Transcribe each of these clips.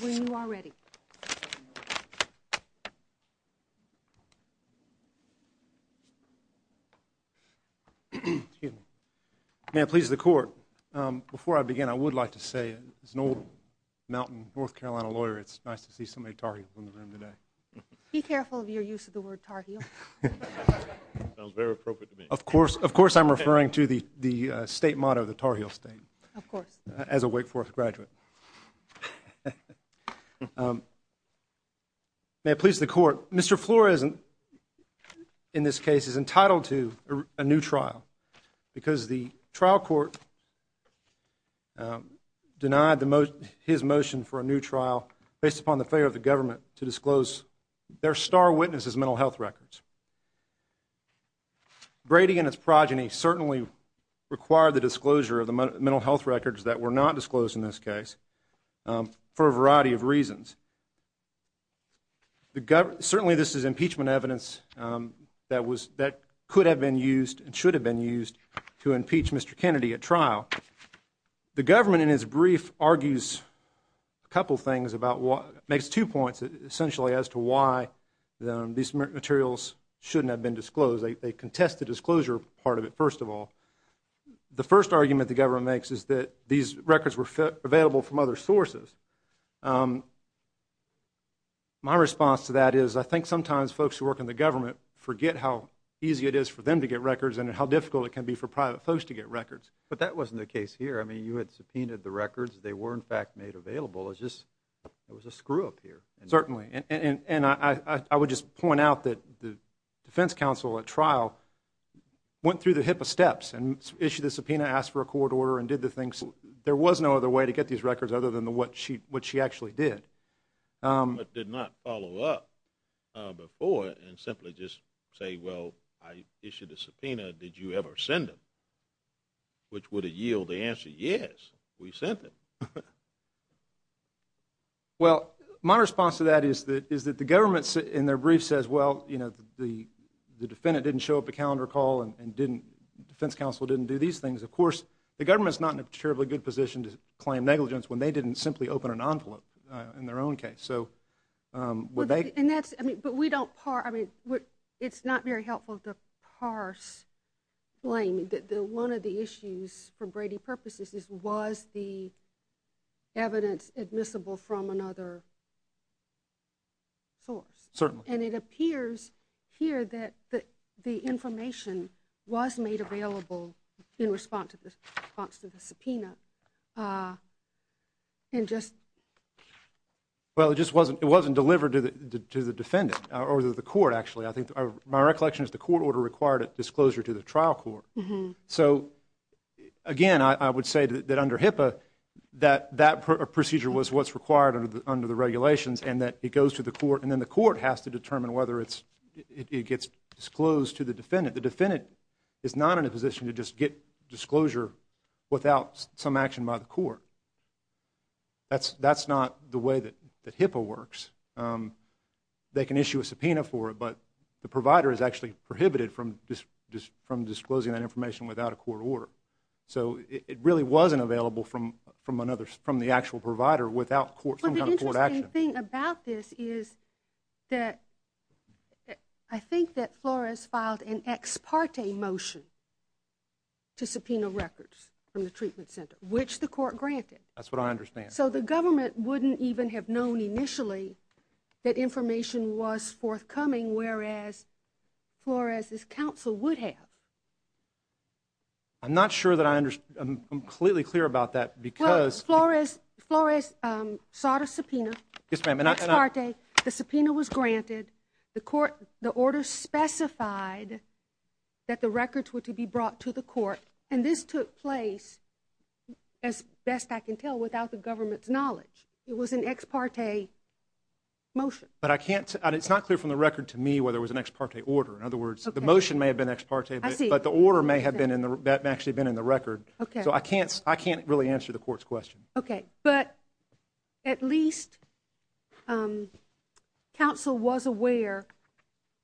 When you are ready. May it please the court, before I begin I would like to say as an old mountain North Carolina lawyer it's nice to see so many Tar Heels in the room today. Be careful of your use of the word Tar Heel. Sounds very appropriate to me. Of course I'm referring to the state motto, the Tar Heel State. Of course. As a Wake Forest graduate. May it please the court, Mr. Flores in this case is entitled to a new trial. Because the trial court denied his motion for a new trial based upon the failure of the government to disclose their star witness' mental health records. Brady and his progeny certainly required the disclosure of the mental health records that were not disclosed in this case. For a variety of reasons. Certainly this is impeachment evidence that could have been used and should have been used to impeach Mr. Kennedy at trial. The government in its brief argues a couple things about what, makes two points essentially as to why these materials shouldn't have been disclosed. They contest the disclosure part of it first of all. The first argument the government makes is that these records were available from other sources. My response to that is I think sometimes folks who work in the government forget how easy it is for them to get records and how difficult it can be for private folks to get records. But that wasn't the case here. I mean you had subpoenaed the records. They were in fact made available. It was a screw up here. Certainly. And I would just point out that the defense counsel at trial went through the hip of steps and issued a subpoena, asked for a court order and did the things. There was no other way to get these records other than what she actually did. But did not follow up before and simply just say, well, I issued a subpoena. Did you ever send them? Which would have yielded the answer, yes, we sent them. Well, my response to that is that the government in their brief says, well, you know, the defendant didn't show up to calendar call and defense counsel didn't do these things. Of course, the government is not in a terribly good position to claim negligence when they didn't simply open an envelope in their own case. So would they? But we don't parse. I mean it's not very helpful to parse blame. One of the issues for Brady purposes was the evidence admissible from another source. Certainly. And it appears here that the information was made available in response to the subpoena and just. Well, it just wasn't delivered to the defendant or the court actually. I think my recollection is the court order required a disclosure to the trial court. So, again, I would say that under HIPAA, that procedure was what's required under the regulations and that it goes to the court and then the court has to determine whether it gets disclosed to the defendant. The defendant is not in a position to just get disclosure without some action by the court. That's not the way that HIPAA works. They can issue a subpoena for it, but the provider is actually prohibited from disclosing that information without a court order. So it really wasn't available from the actual provider without some kind of court action. Well, the interesting thing about this is that I think that Flores filed an ex parte motion to subpoena records from the treatment center, which the court granted. That's what I understand. So the government wouldn't even have known initially that information was forthcoming, whereas Flores' counsel would have. I'm not sure that I understand. I'm completely clear about that because – Well, Flores sought a subpoena. Yes, ma'am. An ex parte. The subpoena was granted. The order specified that the records were to be brought to the court. And this took place, as best I can tell, without the government's knowledge. It was an ex parte motion. But I can't – it's not clear from the record to me whether it was an ex parte order. In other words, the motion may have been ex parte, but the order may have actually been in the record. So I can't really answer the court's question. Okay. But at least counsel was aware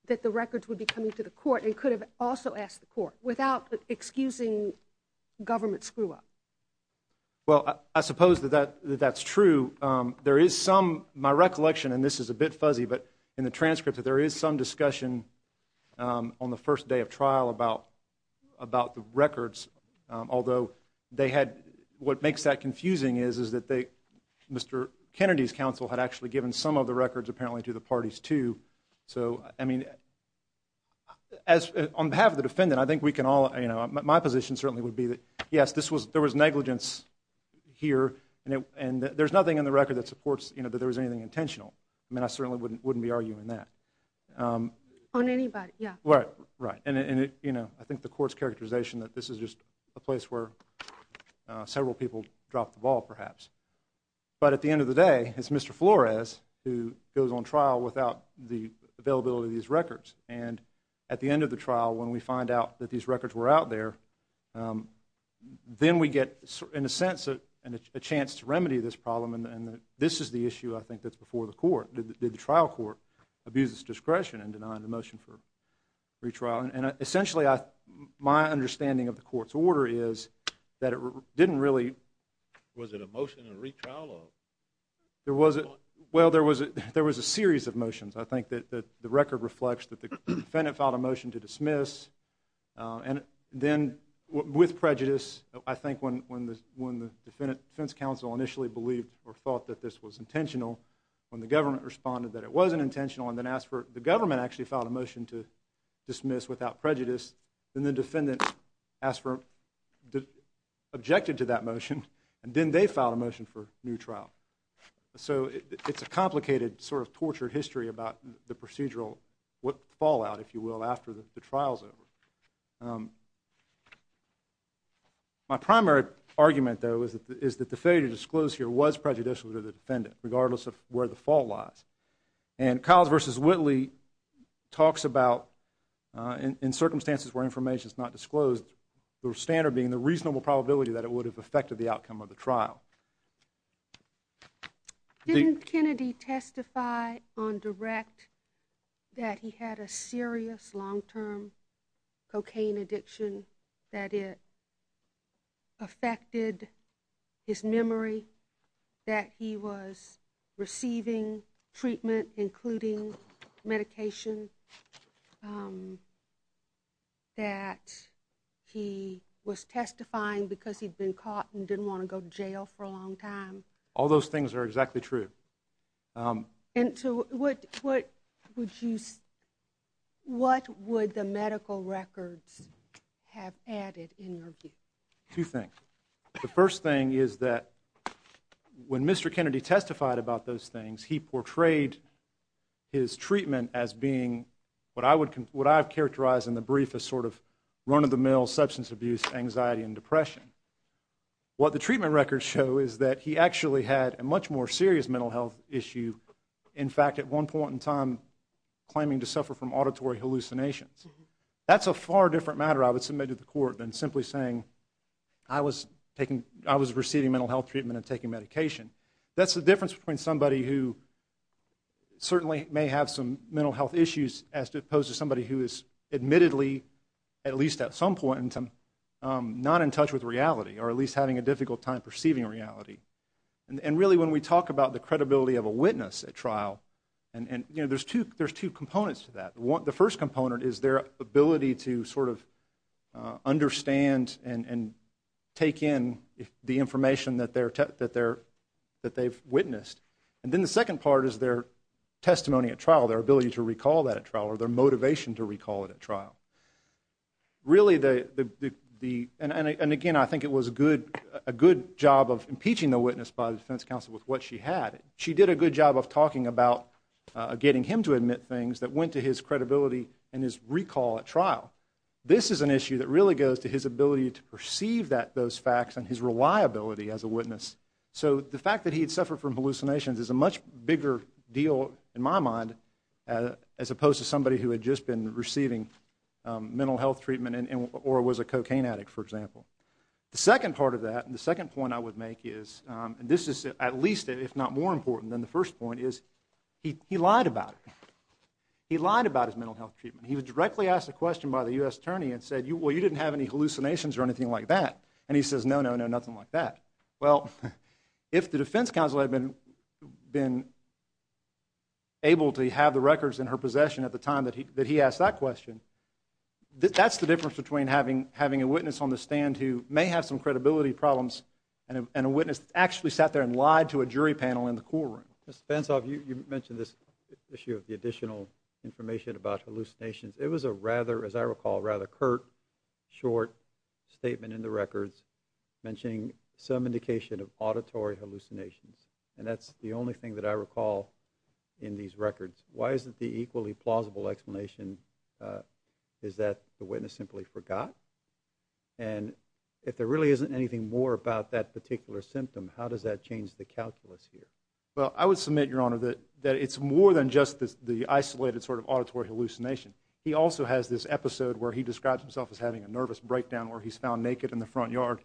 that the records would be coming to the court and could have also asked the court without excusing government screw-up. Well, I suppose that that's true. There is some – my recollection, and this is a bit fuzzy, but in the transcript, there is some discussion on the first day of trial about the records, although they had – what makes that confusing is that Mr. Kennedy's counsel had actually given some of the records, apparently, to the parties, too. So, I mean, on behalf of the defendant, I think we can all – my position certainly would be that, yes, there was negligence here, and there's nothing in the record that supports that there was anything intentional. I mean, I certainly wouldn't be arguing that. On anybody, yeah. Right. And, you know, I think the court's characterization that this is just a place where several people dropped the ball, perhaps. But at the end of the day, it's Mr. Flores who goes on trial without the availability of these records. And at the end of the trial, when we find out that these records were out there, then we get, in a sense, a chance to remedy this problem, and this is the issue, I think, that's before the court. Did the trial court abuse its discretion in denying the motion for retrial? And essentially, my understanding of the court's order is that it didn't really – Was it a motion and a retrial? Well, there was a series of motions. I think that the record reflects that the defendant filed a motion to dismiss, and then, with prejudice, I think when the defense counsel initially believed or thought that this was intentional, when the government responded that it wasn't intentional and then asked for – the government actually filed a motion to dismiss without prejudice, then the defendant objected to that motion, and then they filed a motion for new trial. So it's a complicated, sort of tortured history about the procedural fallout, if you will, after the trial's over. My primary argument, though, is that the failure to disclose here was prejudicial to the defendant, regardless of where the fault lies. And Kyles v. Whitley talks about, in circumstances where information's not disclosed, the standard being the reasonable probability that it would have affected the outcome of the trial. Didn't Kennedy testify on direct that he had a serious long-term cocaine addiction, that it affected his memory, that he was receiving treatment, including medication, that he was testifying because he'd been caught and didn't want to go to jail for a long time? All those things are exactly true. And so what would you – what would the medical records have added in your view? Two things. The first thing is that when Mr. Kennedy testified about those things, he portrayed his treatment as being what I've characterized in the brief as sort of run-of-the-mill substance abuse, anxiety, and depression. What the treatment records show is that he actually had a much more serious mental health issue, in fact, at one point in time claiming to suffer from auditory hallucinations. That's a far different matter, I would submit to the court, than simply saying I was receiving mental health treatment and taking medication. That's the difference between somebody who certainly may have some mental health issues as opposed to somebody who is admittedly, at least at some point, not in touch with reality or at least having a difficult time perceiving reality. And really when we talk about the credibility of a witness at trial, there's two components to that. The first component is their ability to sort of understand and take in the information that they've witnessed. And then the second part is their testimony at trial, their ability to recall that at trial, or their motivation to recall it at trial. Really, and again, I think it was a good job of impeaching the witness by the defense counsel with what she had. She did a good job of talking about getting him to admit things that went to his credibility and his recall at trial. This is an issue that really goes to his ability to perceive those facts and his reliability as a witness. So the fact that he had suffered from hallucinations is a much bigger deal, in my mind, as opposed to somebody who had just been receiving mental health treatment or was a cocaine addict, for example. The second part of that, the second point I would make is, and this is at least if not more important than the first point, is he lied about it. He lied about his mental health treatment. He was directly asked a question by the U.S. attorney and said, well, you didn't have any hallucinations or anything like that. And he says, no, no, no, nothing like that. Well, if the defense counsel had been able to have the records in her possession at the time that he asked that question, that's the difference between having a witness on the stand who may have some credibility problems and a witness that actually sat there and lied to a jury panel in the courtroom. Mr. Spence, you mentioned this issue of the additional information about hallucinations. It was a rather, as I recall, rather curt, short statement in the records mentioning some indication of auditory hallucinations. And that's the only thing that I recall in these records. Why isn't the equally plausible explanation is that the witness simply forgot? And if there really isn't anything more about that particular symptom, how does that change the calculus here? Well, I would submit, Your Honor, that it's more than just the isolated sort of auditory hallucination. He also has this episode where he describes himself as having a nervous breakdown where he's found naked in the front yard.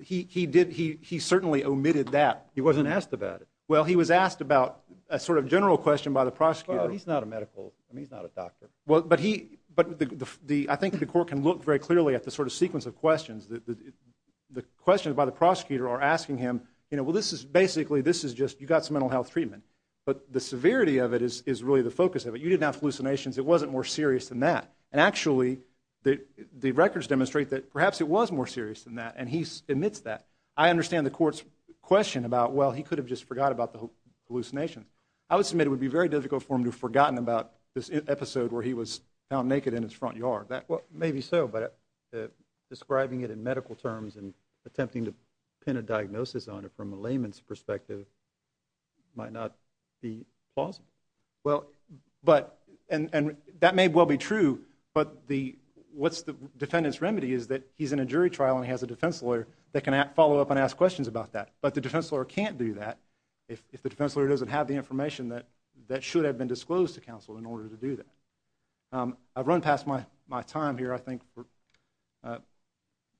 He certainly omitted that. He wasn't asked about it. Well, he was asked about a sort of general question by the prosecutor. Well, he's not a medical. I mean, he's not a doctor. But I think the court can look very clearly at the sort of sequence of questions. The questions by the prosecutor are asking him, you know, well, this is basically, this is just, you got some mental health treatment, but the severity of it is really the focus of it. You didn't have hallucinations. It wasn't more serious than that. And actually, the records demonstrate that perhaps it was more serious than that, and he omits that. I understand the court's question about, well, he could have just forgot about the hallucinations. I would submit it would be very difficult for him to have forgotten about this episode where he was found naked in his front yard. Well, maybe so, but describing it in medical terms and attempting to pin a diagnosis on it from a layman's perspective might not be plausible. Well, and that may well be true, but what's the defendant's remedy is that he's in a jury trial and he has a defense lawyer that can follow up and ask questions about that. But the defense lawyer can't do that if the defense lawyer doesn't have the information that should have been disclosed to counsel in order to do that. I've run past my time here, I think.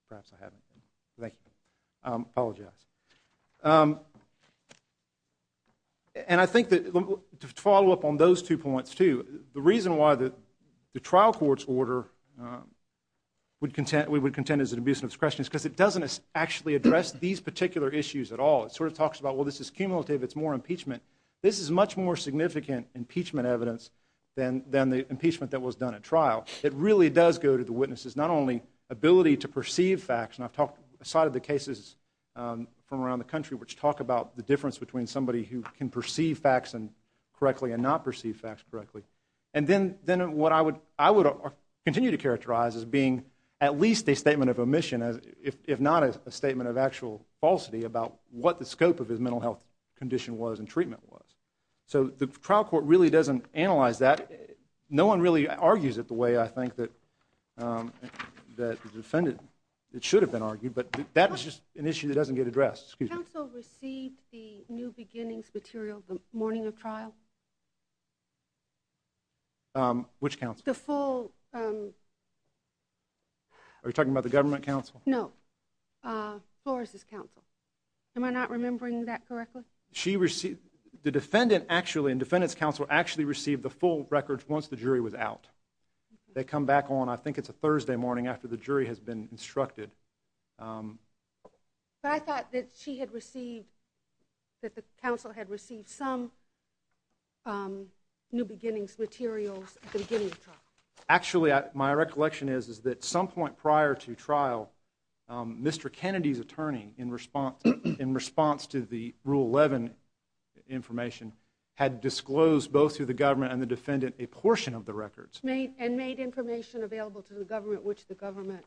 Perhaps I haven't. Thank you. I apologize. And I think to follow up on those two points, too, the reason why the trial court's order we would contend is an abuse of discretion is because it doesn't actually address these particular issues at all. It sort of talks about, well, this is cumulative. It's more impeachment. This is much more significant impeachment evidence than the impeachment that was done at trial. It really does go to the witness's not only ability to perceive facts, and I've cited the cases from around the country which talk about the difference between somebody who can perceive facts correctly and not perceive facts correctly. And then what I would continue to characterize as being at least a statement of omission, if not a statement of actual falsity, about what the scope of his mental health condition was and treatment was. So the trial court really doesn't analyze that. No one really argues it the way I think that the defendant should have been argued, but that is just an issue that doesn't get addressed. Counsel received the New Beginnings material the morning of trial? Which counsel? The full... Are you talking about the government counsel? No. Flores' counsel. Am I not remembering that correctly? She received... The defendant actually, the defendant's counsel actually received the full records once the jury was out. They come back on, I think it's a Thursday morning after the jury has been instructed. But I thought that she had received, that the counsel had received some New Beginnings materials at the beginning of trial. Actually, my recollection is that at some point prior to trial, Mr. Kennedy's attorney, in response to the Rule 11 information, had disclosed both to the government and the defendant a portion of the records. And made information available to the government, which the government...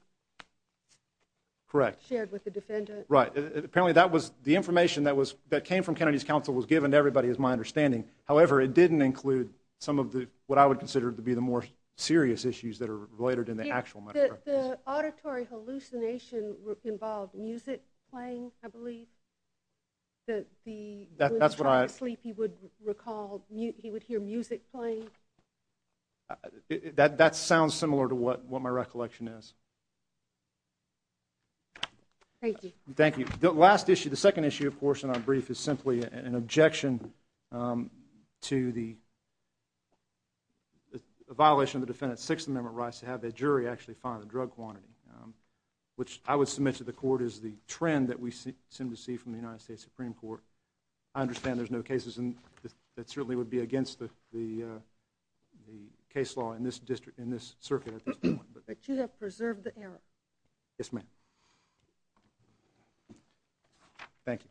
Correct. ...shared with the defendant. Right. Apparently that was the information that came from Kennedy's counsel was given to everybody, is my understanding. However, it didn't include some of what I would consider to be the more serious issues that are related in the actual matter. The auditory hallucination involved music playing, I believe. That's what I... When he was trying to sleep, he would recall, he would hear music playing. That sounds similar to what my recollection is. Thank you. Thank you. The last issue, the second issue, of course, in our brief, is simply an objection to the violation of the defendant's Sixth Amendment rights to have the jury actually find the drug quantity, which I would submit to the court is the trend that we seem to see from the United States Supreme Court. I understand there's no cases that certainly would be against the case law in this circuit at this point. But you have preserved the error. Yes, ma'am. Thank you.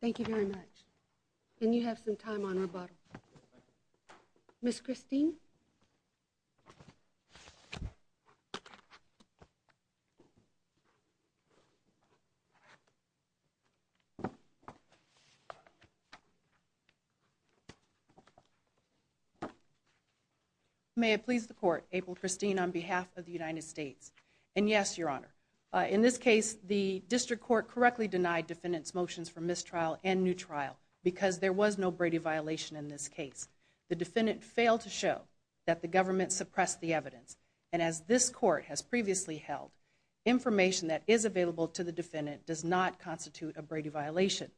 Thank you very much. And you have some time on rebuttal. Ms. Christine? May it please the court, April Christine, on behalf of the United States. And yes, Your Honor. In this case, the district court correctly denied defendant's motions for mistrial and new trial because there was no Brady violation in this case. The defendant failed to show that the government suppressed the evidence. And as this court has previously held, information that is available to the defendant does not constitute a Brady violation.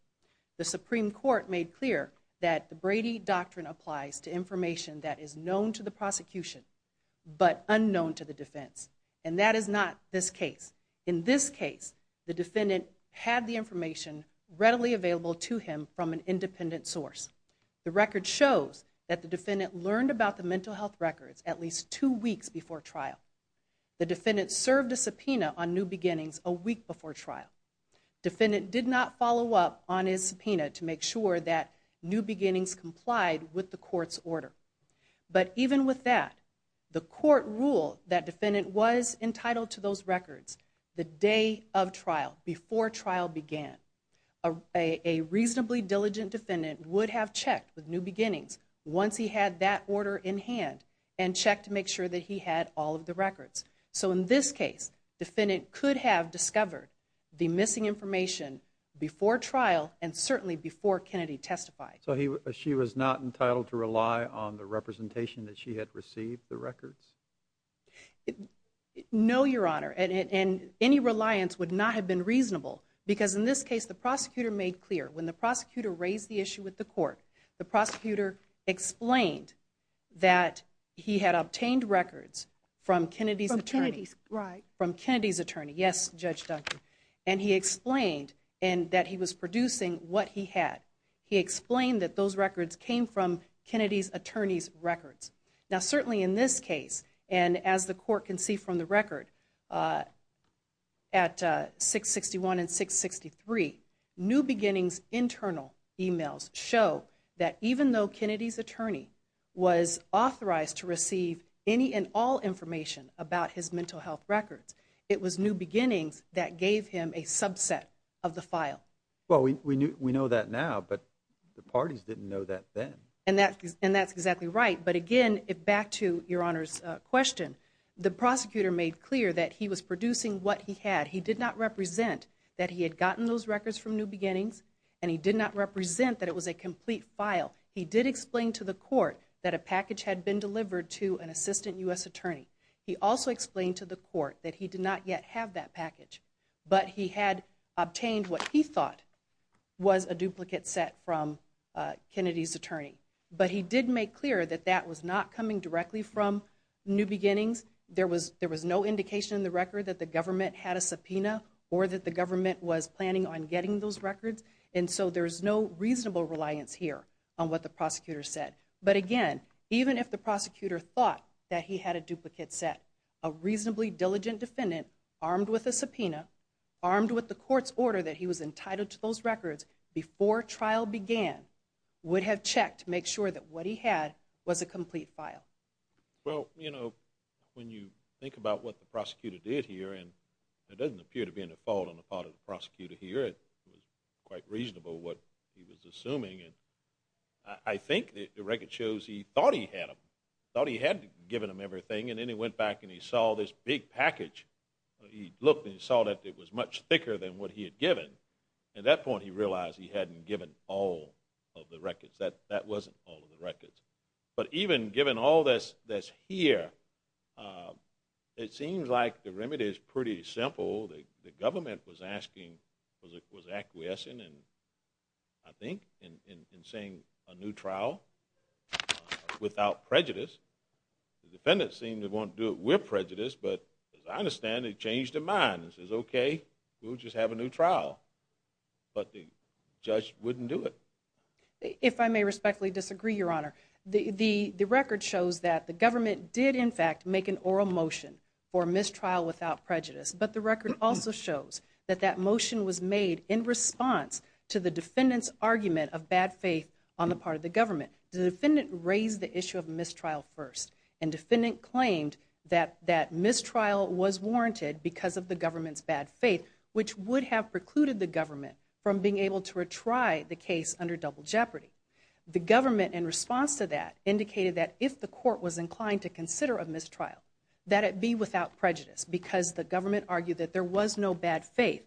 The Supreme Court made clear that the Brady doctrine applies to information that is known to the prosecution but unknown to the defense. And that is not this case. In this case, the defendant had the information readily available to him from an independent source. The record shows that the defendant learned about the mental health records at least two weeks before trial. The defendant served a subpoena on new beginnings a week before trial. Defendant did not follow up on his subpoena to make sure that new beginnings complied with the court's order. But even with that, the court ruled that defendant was entitled to those records the day of trial, before trial began. A reasonably diligent defendant would have checked with new beginnings once he had that order in hand and checked to make sure that he had all of the records. So in this case, defendant could have discovered the missing information before trial and certainly before Kennedy testified. So she was not entitled to rely on the representation that she had received, the records? No, Your Honor, and any reliance would not have been reasonable because in this case the prosecutor made clear, when the prosecutor raised the issue with the court, the prosecutor explained that he had obtained records from Kennedy's attorney. From Kennedy's, right. From Kennedy's attorney, yes, Judge Duncan. And he explained that he was producing what he had. He explained that those records came from Kennedy's attorney's records. Now certainly in this case, and as the court can see from the record, at 661 and 663, new beginnings' internal emails show that even though Kennedy's attorney was authorized to receive any and all information about his mental health records, it was new beginnings that gave him a subset of the file. Well, we know that now, but the parties didn't know that then. And that's exactly right. But again, back to Your Honor's question, the prosecutor made clear that he was producing what he had. He did not represent that he had gotten those records from new beginnings, and he did not represent that it was a complete file. He did explain to the court that a package had been delivered to an assistant U.S. attorney. He also explained to the court that he did not yet have that package, but he had obtained what he thought was a duplicate set from Kennedy's attorney. But he did make clear that that was not coming directly from new beginnings. There was no indication in the record that the government had a subpoena or that the government was planning on getting those records, and so there's no reasonable reliance here on what the prosecutor said. But again, even if the prosecutor thought that he had a duplicate set, a reasonably diligent defendant armed with a subpoena, armed with the court's order that he was entitled to those records before trial began, would have checked to make sure that what he had was a complete file. Well, you know, when you think about what the prosecutor did here, and it doesn't appear to be any fault on the part of the prosecutor here. It was quite reasonable what he was assuming. I think the record shows he thought he had them, thought he had given them everything, and then he went back and he saw this big package. He looked and he saw that it was much thicker than what he had given. At that point he realized he hadn't given all of the records. That wasn't all of the records. But even given all this here, it seems like the remedy is pretty simple. The government was asking, was acquiescing, I think, in saying a new trial without prejudice. The defendant seemed to want to do it with prejudice, but as I understand it, it changed their minds and says, okay, we'll just have a new trial. But the judge wouldn't do it. If I may respectfully disagree, Your Honor, the record shows that the government did in fact make an oral motion for mistrial without prejudice, but the record also shows that that motion was made in response to the defendant's argument of bad faith on the part of the government. The defendant raised the issue of mistrial first, and the defendant claimed that mistrial was warranted because of the government's bad faith, which would have precluded the government from being able to retry the case under double jeopardy. The government, in response to that, indicated that if the court was inclined to consider a mistrial, that it be without prejudice because the government argued that there was no bad faith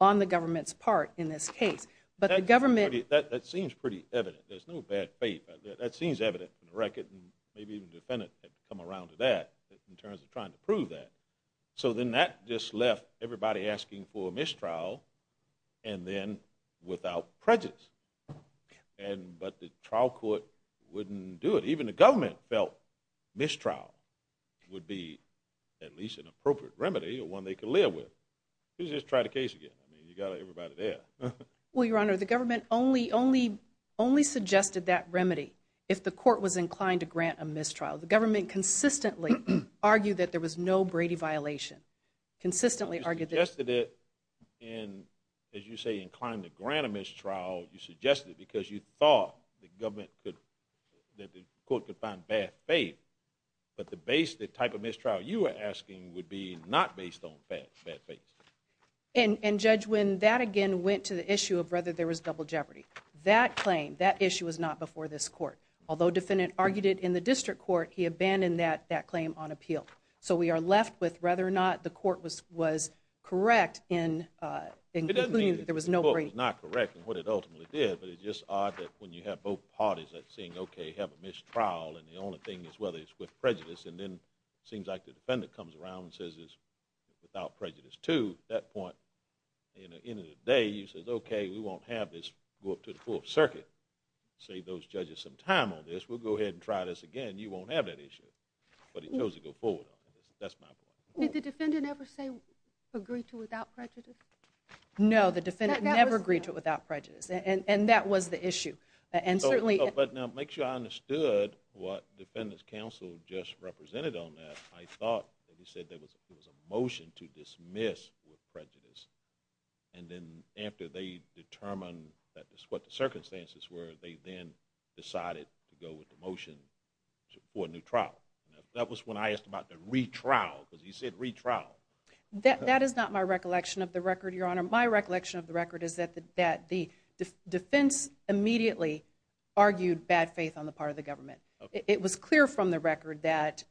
on the government's part in this case. That seems pretty evident. There's no bad faith. That seems evident from the record, and maybe even the defendant had come around to that in terms of trying to prove that. So then that just left everybody asking for a mistrial and then without prejudice. But the trial court wouldn't do it. Even the government felt mistrial would be at least an appropriate remedy or one they could live with. You could just try the case again. You've got everybody there. Well, Your Honor, the government only suggested that remedy if the court was inclined to grant a mistrial. The government consistently argued that there was no Brady violation, consistently argued that. You suggested it, and as you say, inclined to grant a mistrial, you suggested it because you thought that the court could find bad faith, but the type of mistrial you were asking would be not based on bad faith. And, Judge, when that again went to the issue of whether there was double jeopardy, that claim, that issue was not before this court. Although the defendant argued it in the district court, he abandoned that claim on appeal. So we are left with whether or not the court was correct in concluding that there was no Brady. It doesn't mean that the court was not correct in what it ultimately did, but it's just odd that when you have both parties saying, okay, have a mistrial and the only thing is whether it's with prejudice, and then it seems like the defendant comes around and says it's without prejudice too, at that point, at the end of the day, you say, okay, we won't have this go up to the full circuit. Save those judges some time on this. We'll go ahead and try this again. You won't have that issue. But he chose to go forward on it. That's my point. Did the defendant ever say agree to it without prejudice? No, the defendant never agreed to it without prejudice, and that was the issue. But now make sure I understood what the defendant's counsel just represented on that. I thought that he said there was a motion to dismiss with prejudice, and then after they determined what the circumstances were, they then decided to go with the motion for a new trial. That was when I asked about the retrial, because he said retrial. That is not my recollection of the record, Your Honor. My recollection of the record is that the defense immediately argued bad faith on the part of the government. It was clear from the record that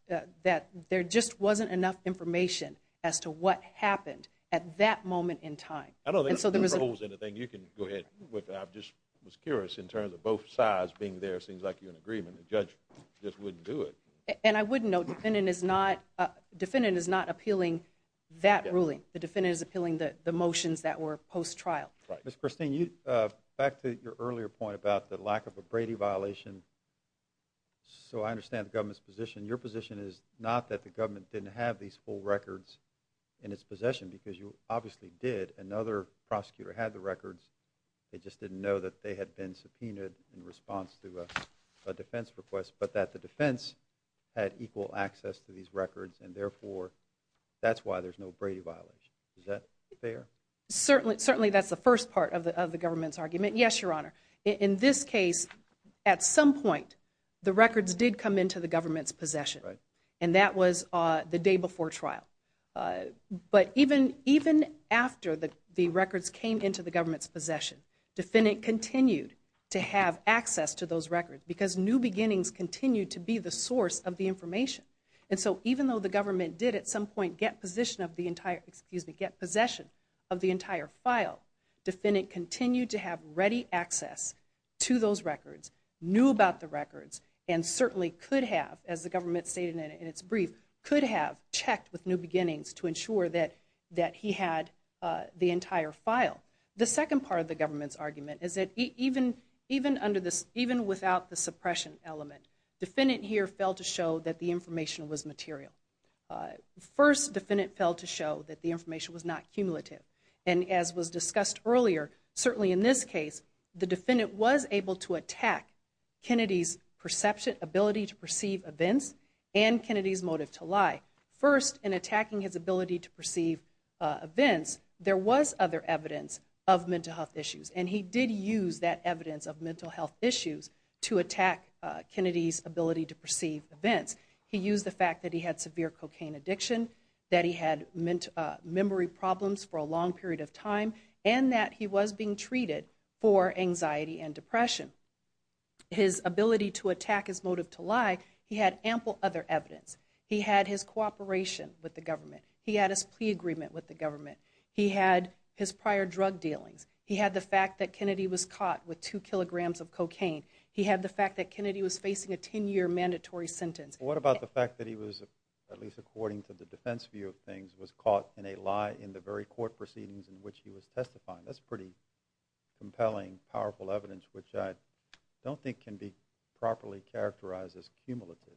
there just wasn't enough information as to what happened at that moment in time. I don't think there were holes in the thing. You can go ahead with that. I just was curious in terms of both sides being there. It seems like you're in agreement. The judge just wouldn't do it. And I wouldn't know. The defendant is not appealing that ruling. The defendant is appealing the motions that were post-trial. Ms. Christine, back to your earlier point about the lack of a Brady violation, so I understand the government's position. Your position is not that the government didn't have these full records in its possession, because you obviously did. Another prosecutor had the records. They just didn't know that they had been subpoenaed in response to a defense request, but that the defense had equal access to these records, and therefore that's why there's no Brady violation. Is that fair? Certainly that's the first part of the government's argument. Yes, Your Honor. In this case, at some point the records did come into the government's possession, and that was the day before trial. But even after the records came into the government's possession, the defendant continued to have access to those records, because new beginnings continue to be the source of the information. And so even though the government did at some point get possession of the entire file, the defendant continued to have ready access to those records, knew about the records, and certainly could have, as the government stated in its brief, could have checked with new beginnings to ensure that he had the entire file. The second part of the government's argument is that even without the suppression element, the defendant here failed to show that the information was material. First, the defendant failed to show that the information was not cumulative. And as was discussed earlier, certainly in this case, the defendant was able to attack Kennedy's perception, ability to perceive events, and Kennedy's motive to lie. First, in attacking his ability to perceive events, there was other evidence of mental health issues, and he did use that evidence of mental health issues to attack Kennedy's ability to perceive events. He used the fact that he had severe cocaine addiction, that he had memory problems for a long period of time, and that he was being treated for anxiety and depression. His ability to attack his motive to lie, he had ample other evidence. He had his cooperation with the government. He had his plea agreement with the government. He had his prior drug dealings. He had the fact that Kennedy was caught with 2 kilograms of cocaine. He had the fact that Kennedy was facing a 10-year mandatory sentence. What about the fact that he was, at least according to the defense view of things, was caught in a lie in the very court proceedings in which he was testifying? That's pretty compelling, powerful evidence, which I don't think can be properly characterized as cumulative.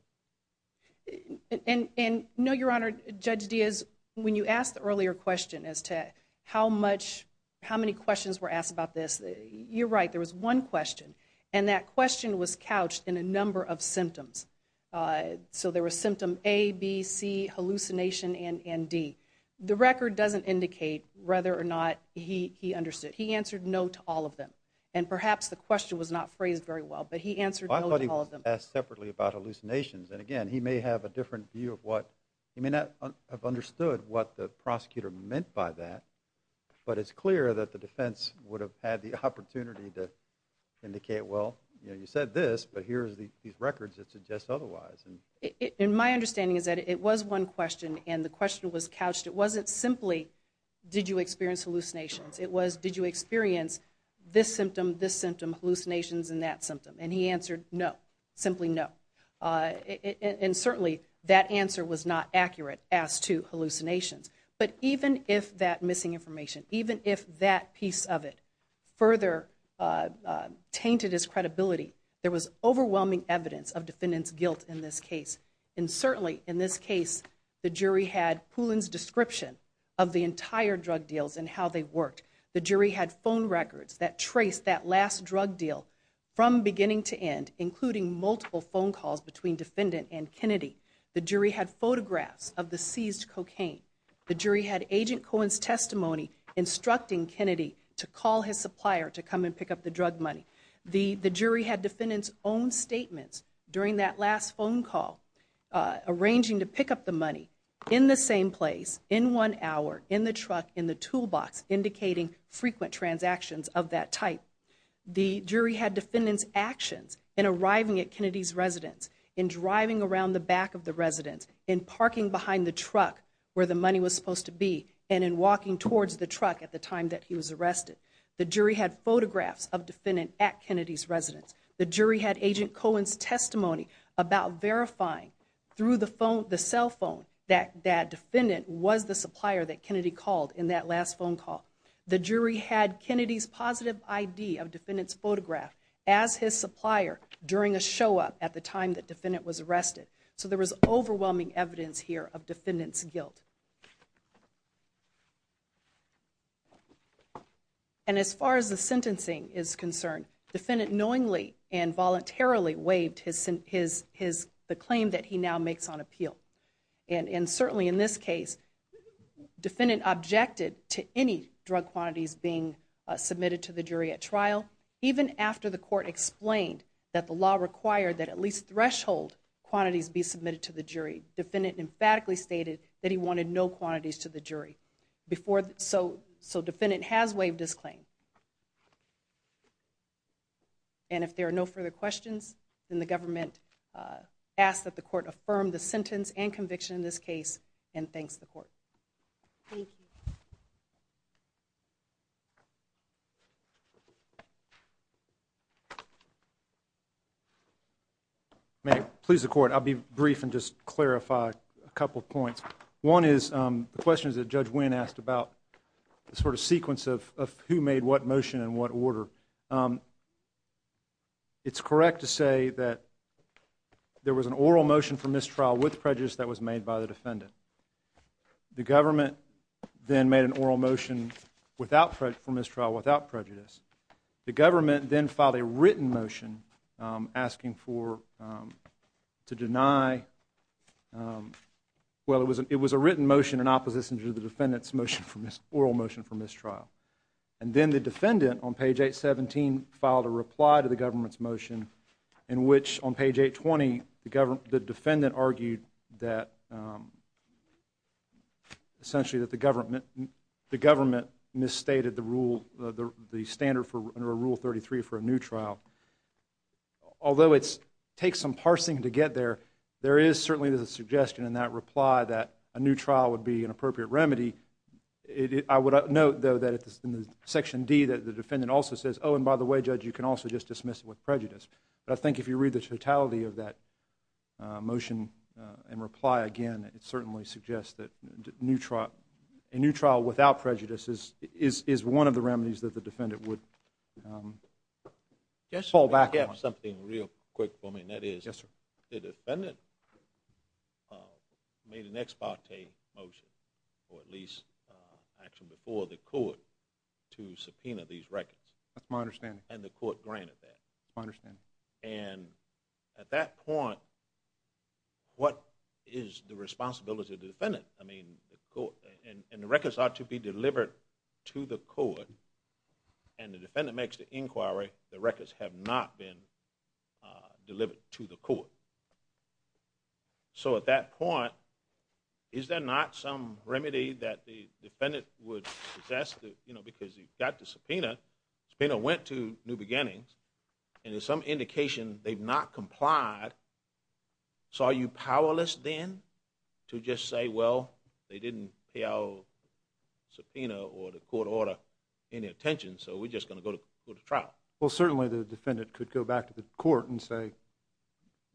And, no, Your Honor, Judge Diaz, when you asked the earlier question as to how many questions were asked about this, you're right. There was one question, and that question was couched in a number of symptoms. So there was symptom A, B, C, hallucination, and D. The record doesn't indicate whether or not he understood. He answered no to all of them. And perhaps the question was not phrased very well, but he answered no to all of them. Well, I thought he was asked separately about hallucinations. And, again, he may have a different view of what, he may not have understood what the prosecutor meant by that, but it's clear that the defense would have had the opportunity to indicate, well, you said this, but here are these records that suggest otherwise. And my understanding is that it was one question, and the question was couched. It wasn't simply did you experience hallucinations. It was did you experience this symptom, this symptom, hallucinations, and that symptom. And he answered no, simply no. And, certainly, that answer was not accurate as to hallucinations. But even if that missing information, even if that piece of it further tainted his credibility, there was overwhelming evidence of defendant's guilt in this case. And, certainly, in this case, the jury had Poulin's description of the entire drug deals and how they worked. The jury had phone records that traced that last drug deal from beginning to end, including multiple phone calls between defendant and Kennedy. The jury had photographs of the seized cocaine. The jury had Agent Cohen's testimony instructing Kennedy to call his supplier to come and pick up the drug money. The jury had defendant's own statements during that last phone call, arranging to pick up the money in the same place, in one hour, in the truck, in the toolbox, indicating frequent transactions of that type. The jury had defendant's actions in arriving at Kennedy's residence, in driving around the back of the residence, in parking behind the truck where the money was supposed to be, and in walking towards the truck at the time that he was arrested. The jury had photographs of defendant at Kennedy's residence. The jury had Agent Cohen's testimony about verifying through the cell phone that that defendant was the supplier that Kennedy called in that last phone call. The jury had Kennedy's positive ID of defendant's photograph as his supplier during a show-up at the time that defendant was arrested. So there was overwhelming evidence here of defendant's guilt. And as far as the sentencing is concerned, defendant knowingly and voluntarily waived the claim that he now makes on appeal. And certainly in this case, defendant objected to any drug quantities being submitted to the jury at trial, even after the court explained that the law required that at least threshold quantities be submitted to the jury. Defendant emphatically stated that he wanted no quantities to the jury. So defendant has waived his claim. And if there are no further questions, then the government asks that the court affirm the sentence and conviction in this case and thanks the court. Thank you. May I please the court? I'll be brief and just clarify a couple of points. One is the questions that Judge Wynn asked about the sort of sequence of who made what motion and what order. It's correct to say that there was an oral motion for mistrial with prejudice that was made by the defendant. The government then made an oral motion for mistrial without prejudice. The government then filed a written motion asking for, to deny, well, it was a written motion in opposition to the defendant's oral motion for mistrial. And then the defendant on page 817 filed a reply to the government's motion in which on page 820 the defendant argued that essentially that the government misstated the rule, the standard under Rule 33 for a new trial. Although it takes some parsing to get there, there is certainly a suggestion in that reply that a new trial would be an appropriate remedy. I would note, though, that it's in Section D that the defendant also says, oh, and by the way, Judge, you can also just dismiss it with prejudice. But I think if you read the totality of that motion and reply again, it certainly suggests that a new trial without prejudice is one of the remedies that the defendant would fall back on. Something real quick for me, and that is the defendant made an ex parte motion or at least action before the court to subpoena these records. That's my understanding. And the court granted that. That's my understanding. And at that point, what is the responsibility of the defendant? I mean, and the records ought to be delivered to the court, and the defendant makes the inquiry the records have not been delivered to the court. So at that point, is there not some remedy that the defendant would possess because he got the subpoena, subpoena went to New Beginnings, and there's some indication they've not complied. So are you powerless then to just say, well, they didn't pay our subpoena or the court order any attention, so we're just going to go to trial? Well, certainly the defendant could go back to the court and say,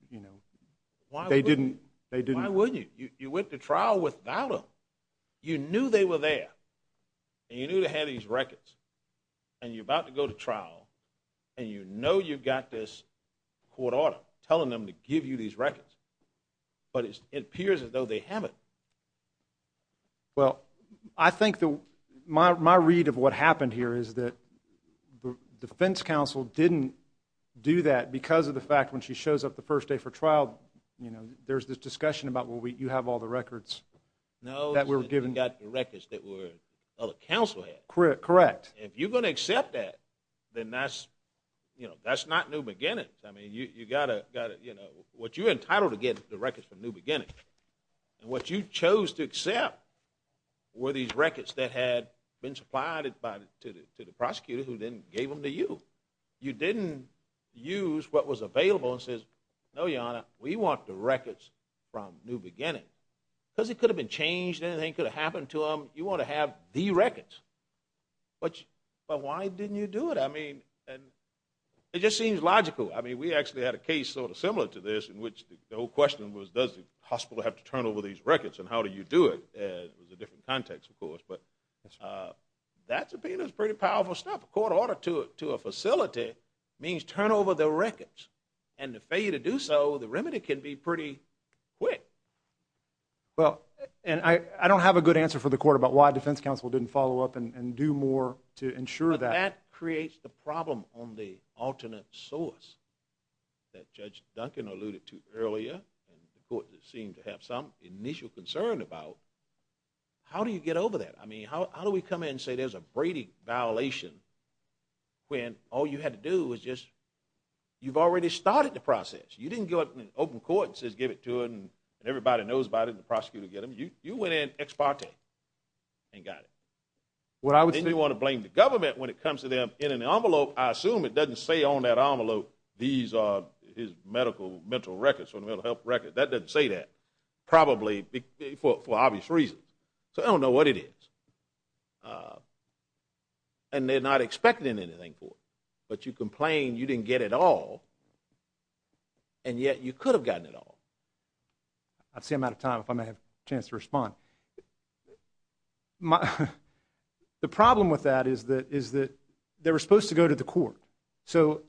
you know, they didn't. Why wouldn't you? You went to trial without them. You knew they were there, and you knew they had these records, and you're about to go to trial, and you know you've got this court order telling them to give you these records, but it appears as though they haven't. Well, I think my read of what happened here is that the defense counsel didn't do that because of the fact when she shows up the first day for trial, you know, there's this discussion about, well, you have all the records that were given. No, you've got the records that the counsel had. Correct. If you're going to accept that, then that's not New Beginnings. I mean, you've got to, you know, what you're entitled to get is the records from New Beginnings, and what you chose to accept were these records that had been supplied to the prosecutor who then gave them to you. You didn't use what was available and say, no, Your Honor, we want the records from New Beginnings. Because it could have been changed, anything could have happened to them. You want to have the records. But why didn't you do it? I mean, it just seems logical. I mean, we actually had a case sort of similar to this in which the whole question was, does the hospital have to turn over these records, and how do you do it? It was a different context, of course. But that subpoena is pretty powerful stuff. A court order to a facility means turn over the records. And to fail you to do so, the remedy can be pretty quick. Well, and I don't have a good answer for the court about why defense counsel didn't follow up and do more to ensure that. That creates the problem on the alternate source that Judge Duncan alluded to earlier and the court seemed to have some initial concern about. How do you get over that? I mean, how do we come in and say there's a Brady violation when all you had to do was just you've already started the process. You didn't go up in an open court and say give it to them, and everybody knows about it and the prosecutor will get them. You went in ex parte and got it. Then you want to blame the government when it comes to them in an envelope. I assume it doesn't say on that envelope these are his medical records, mental health records. That doesn't say that probably for obvious reasons. So I don't know what it is. And they're not expecting anything for it. But you complain you didn't get it all, and yet you could have gotten it all. I see I'm out of time if I may have a chance to respond. The problem with that is that they were supposed to go to the court. So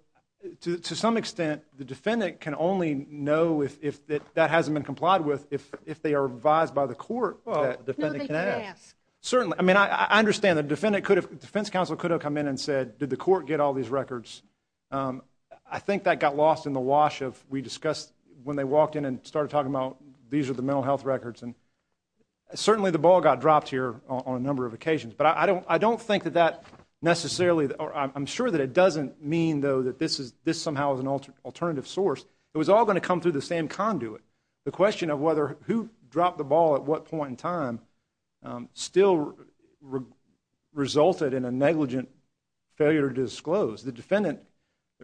to some extent the defendant can only know if that hasn't been complied with if they are advised by the court that the defendant can ask. No, they can ask. Certainly. I mean, I understand the defense counsel could have come in and said, did the court get all these records? I think that got lost in the wash of we discussed when they walked in and started talking about these are the mental health records. And certainly the ball got dropped here on a number of occasions. But I don't think that that necessarily or I'm sure that it doesn't mean, though, that this somehow is an alternative source. It was all going to come through the same conduit. The question of who dropped the ball at what point in time still resulted in a negligent failure to disclose.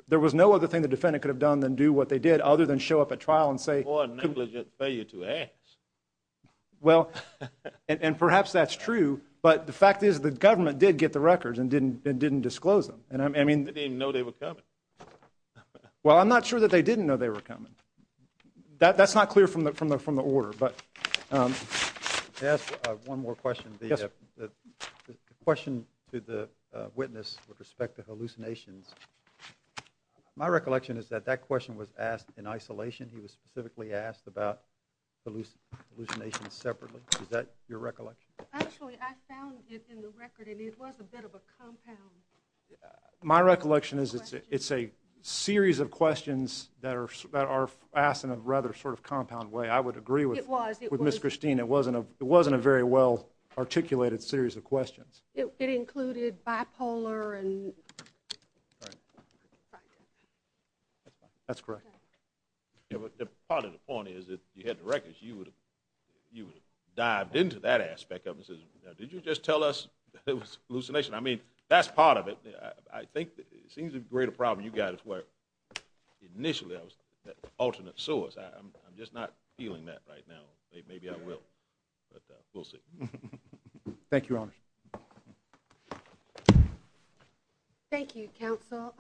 There was no other thing the defendant could have done than do what they did other than show up at trial and say. Or a negligent failure to ask. Well, and perhaps that's true, but the fact is the government did get the records and didn't disclose them. They didn't even know they were coming. Well, I'm not sure that they didn't know they were coming. That's not clear from the order. Can I ask one more question? Yes. The question to the witness with respect to hallucinations. My recollection is that that question was asked in isolation. He was specifically asked about hallucinations separately. Is that your recollection? Actually, I found it in the record, and it was a bit of a compound. My recollection is it's a series of questions that are asked in a rather sort of compound way. I would agree with Ms. Christine. It wasn't a very well-articulated series of questions. It included bipolar and... That's correct. Part of the point is if you had the records, you would have dived into that aspect of it and said, now, did you just tell us it was a hallucination? I mean, that's part of it. I think it seems a greater problem you guys as well. Initially, I was that alternate source. I'm just not feeling that right now. Maybe I will, but we'll see. Thank you, Your Honor. Thank you, counsel.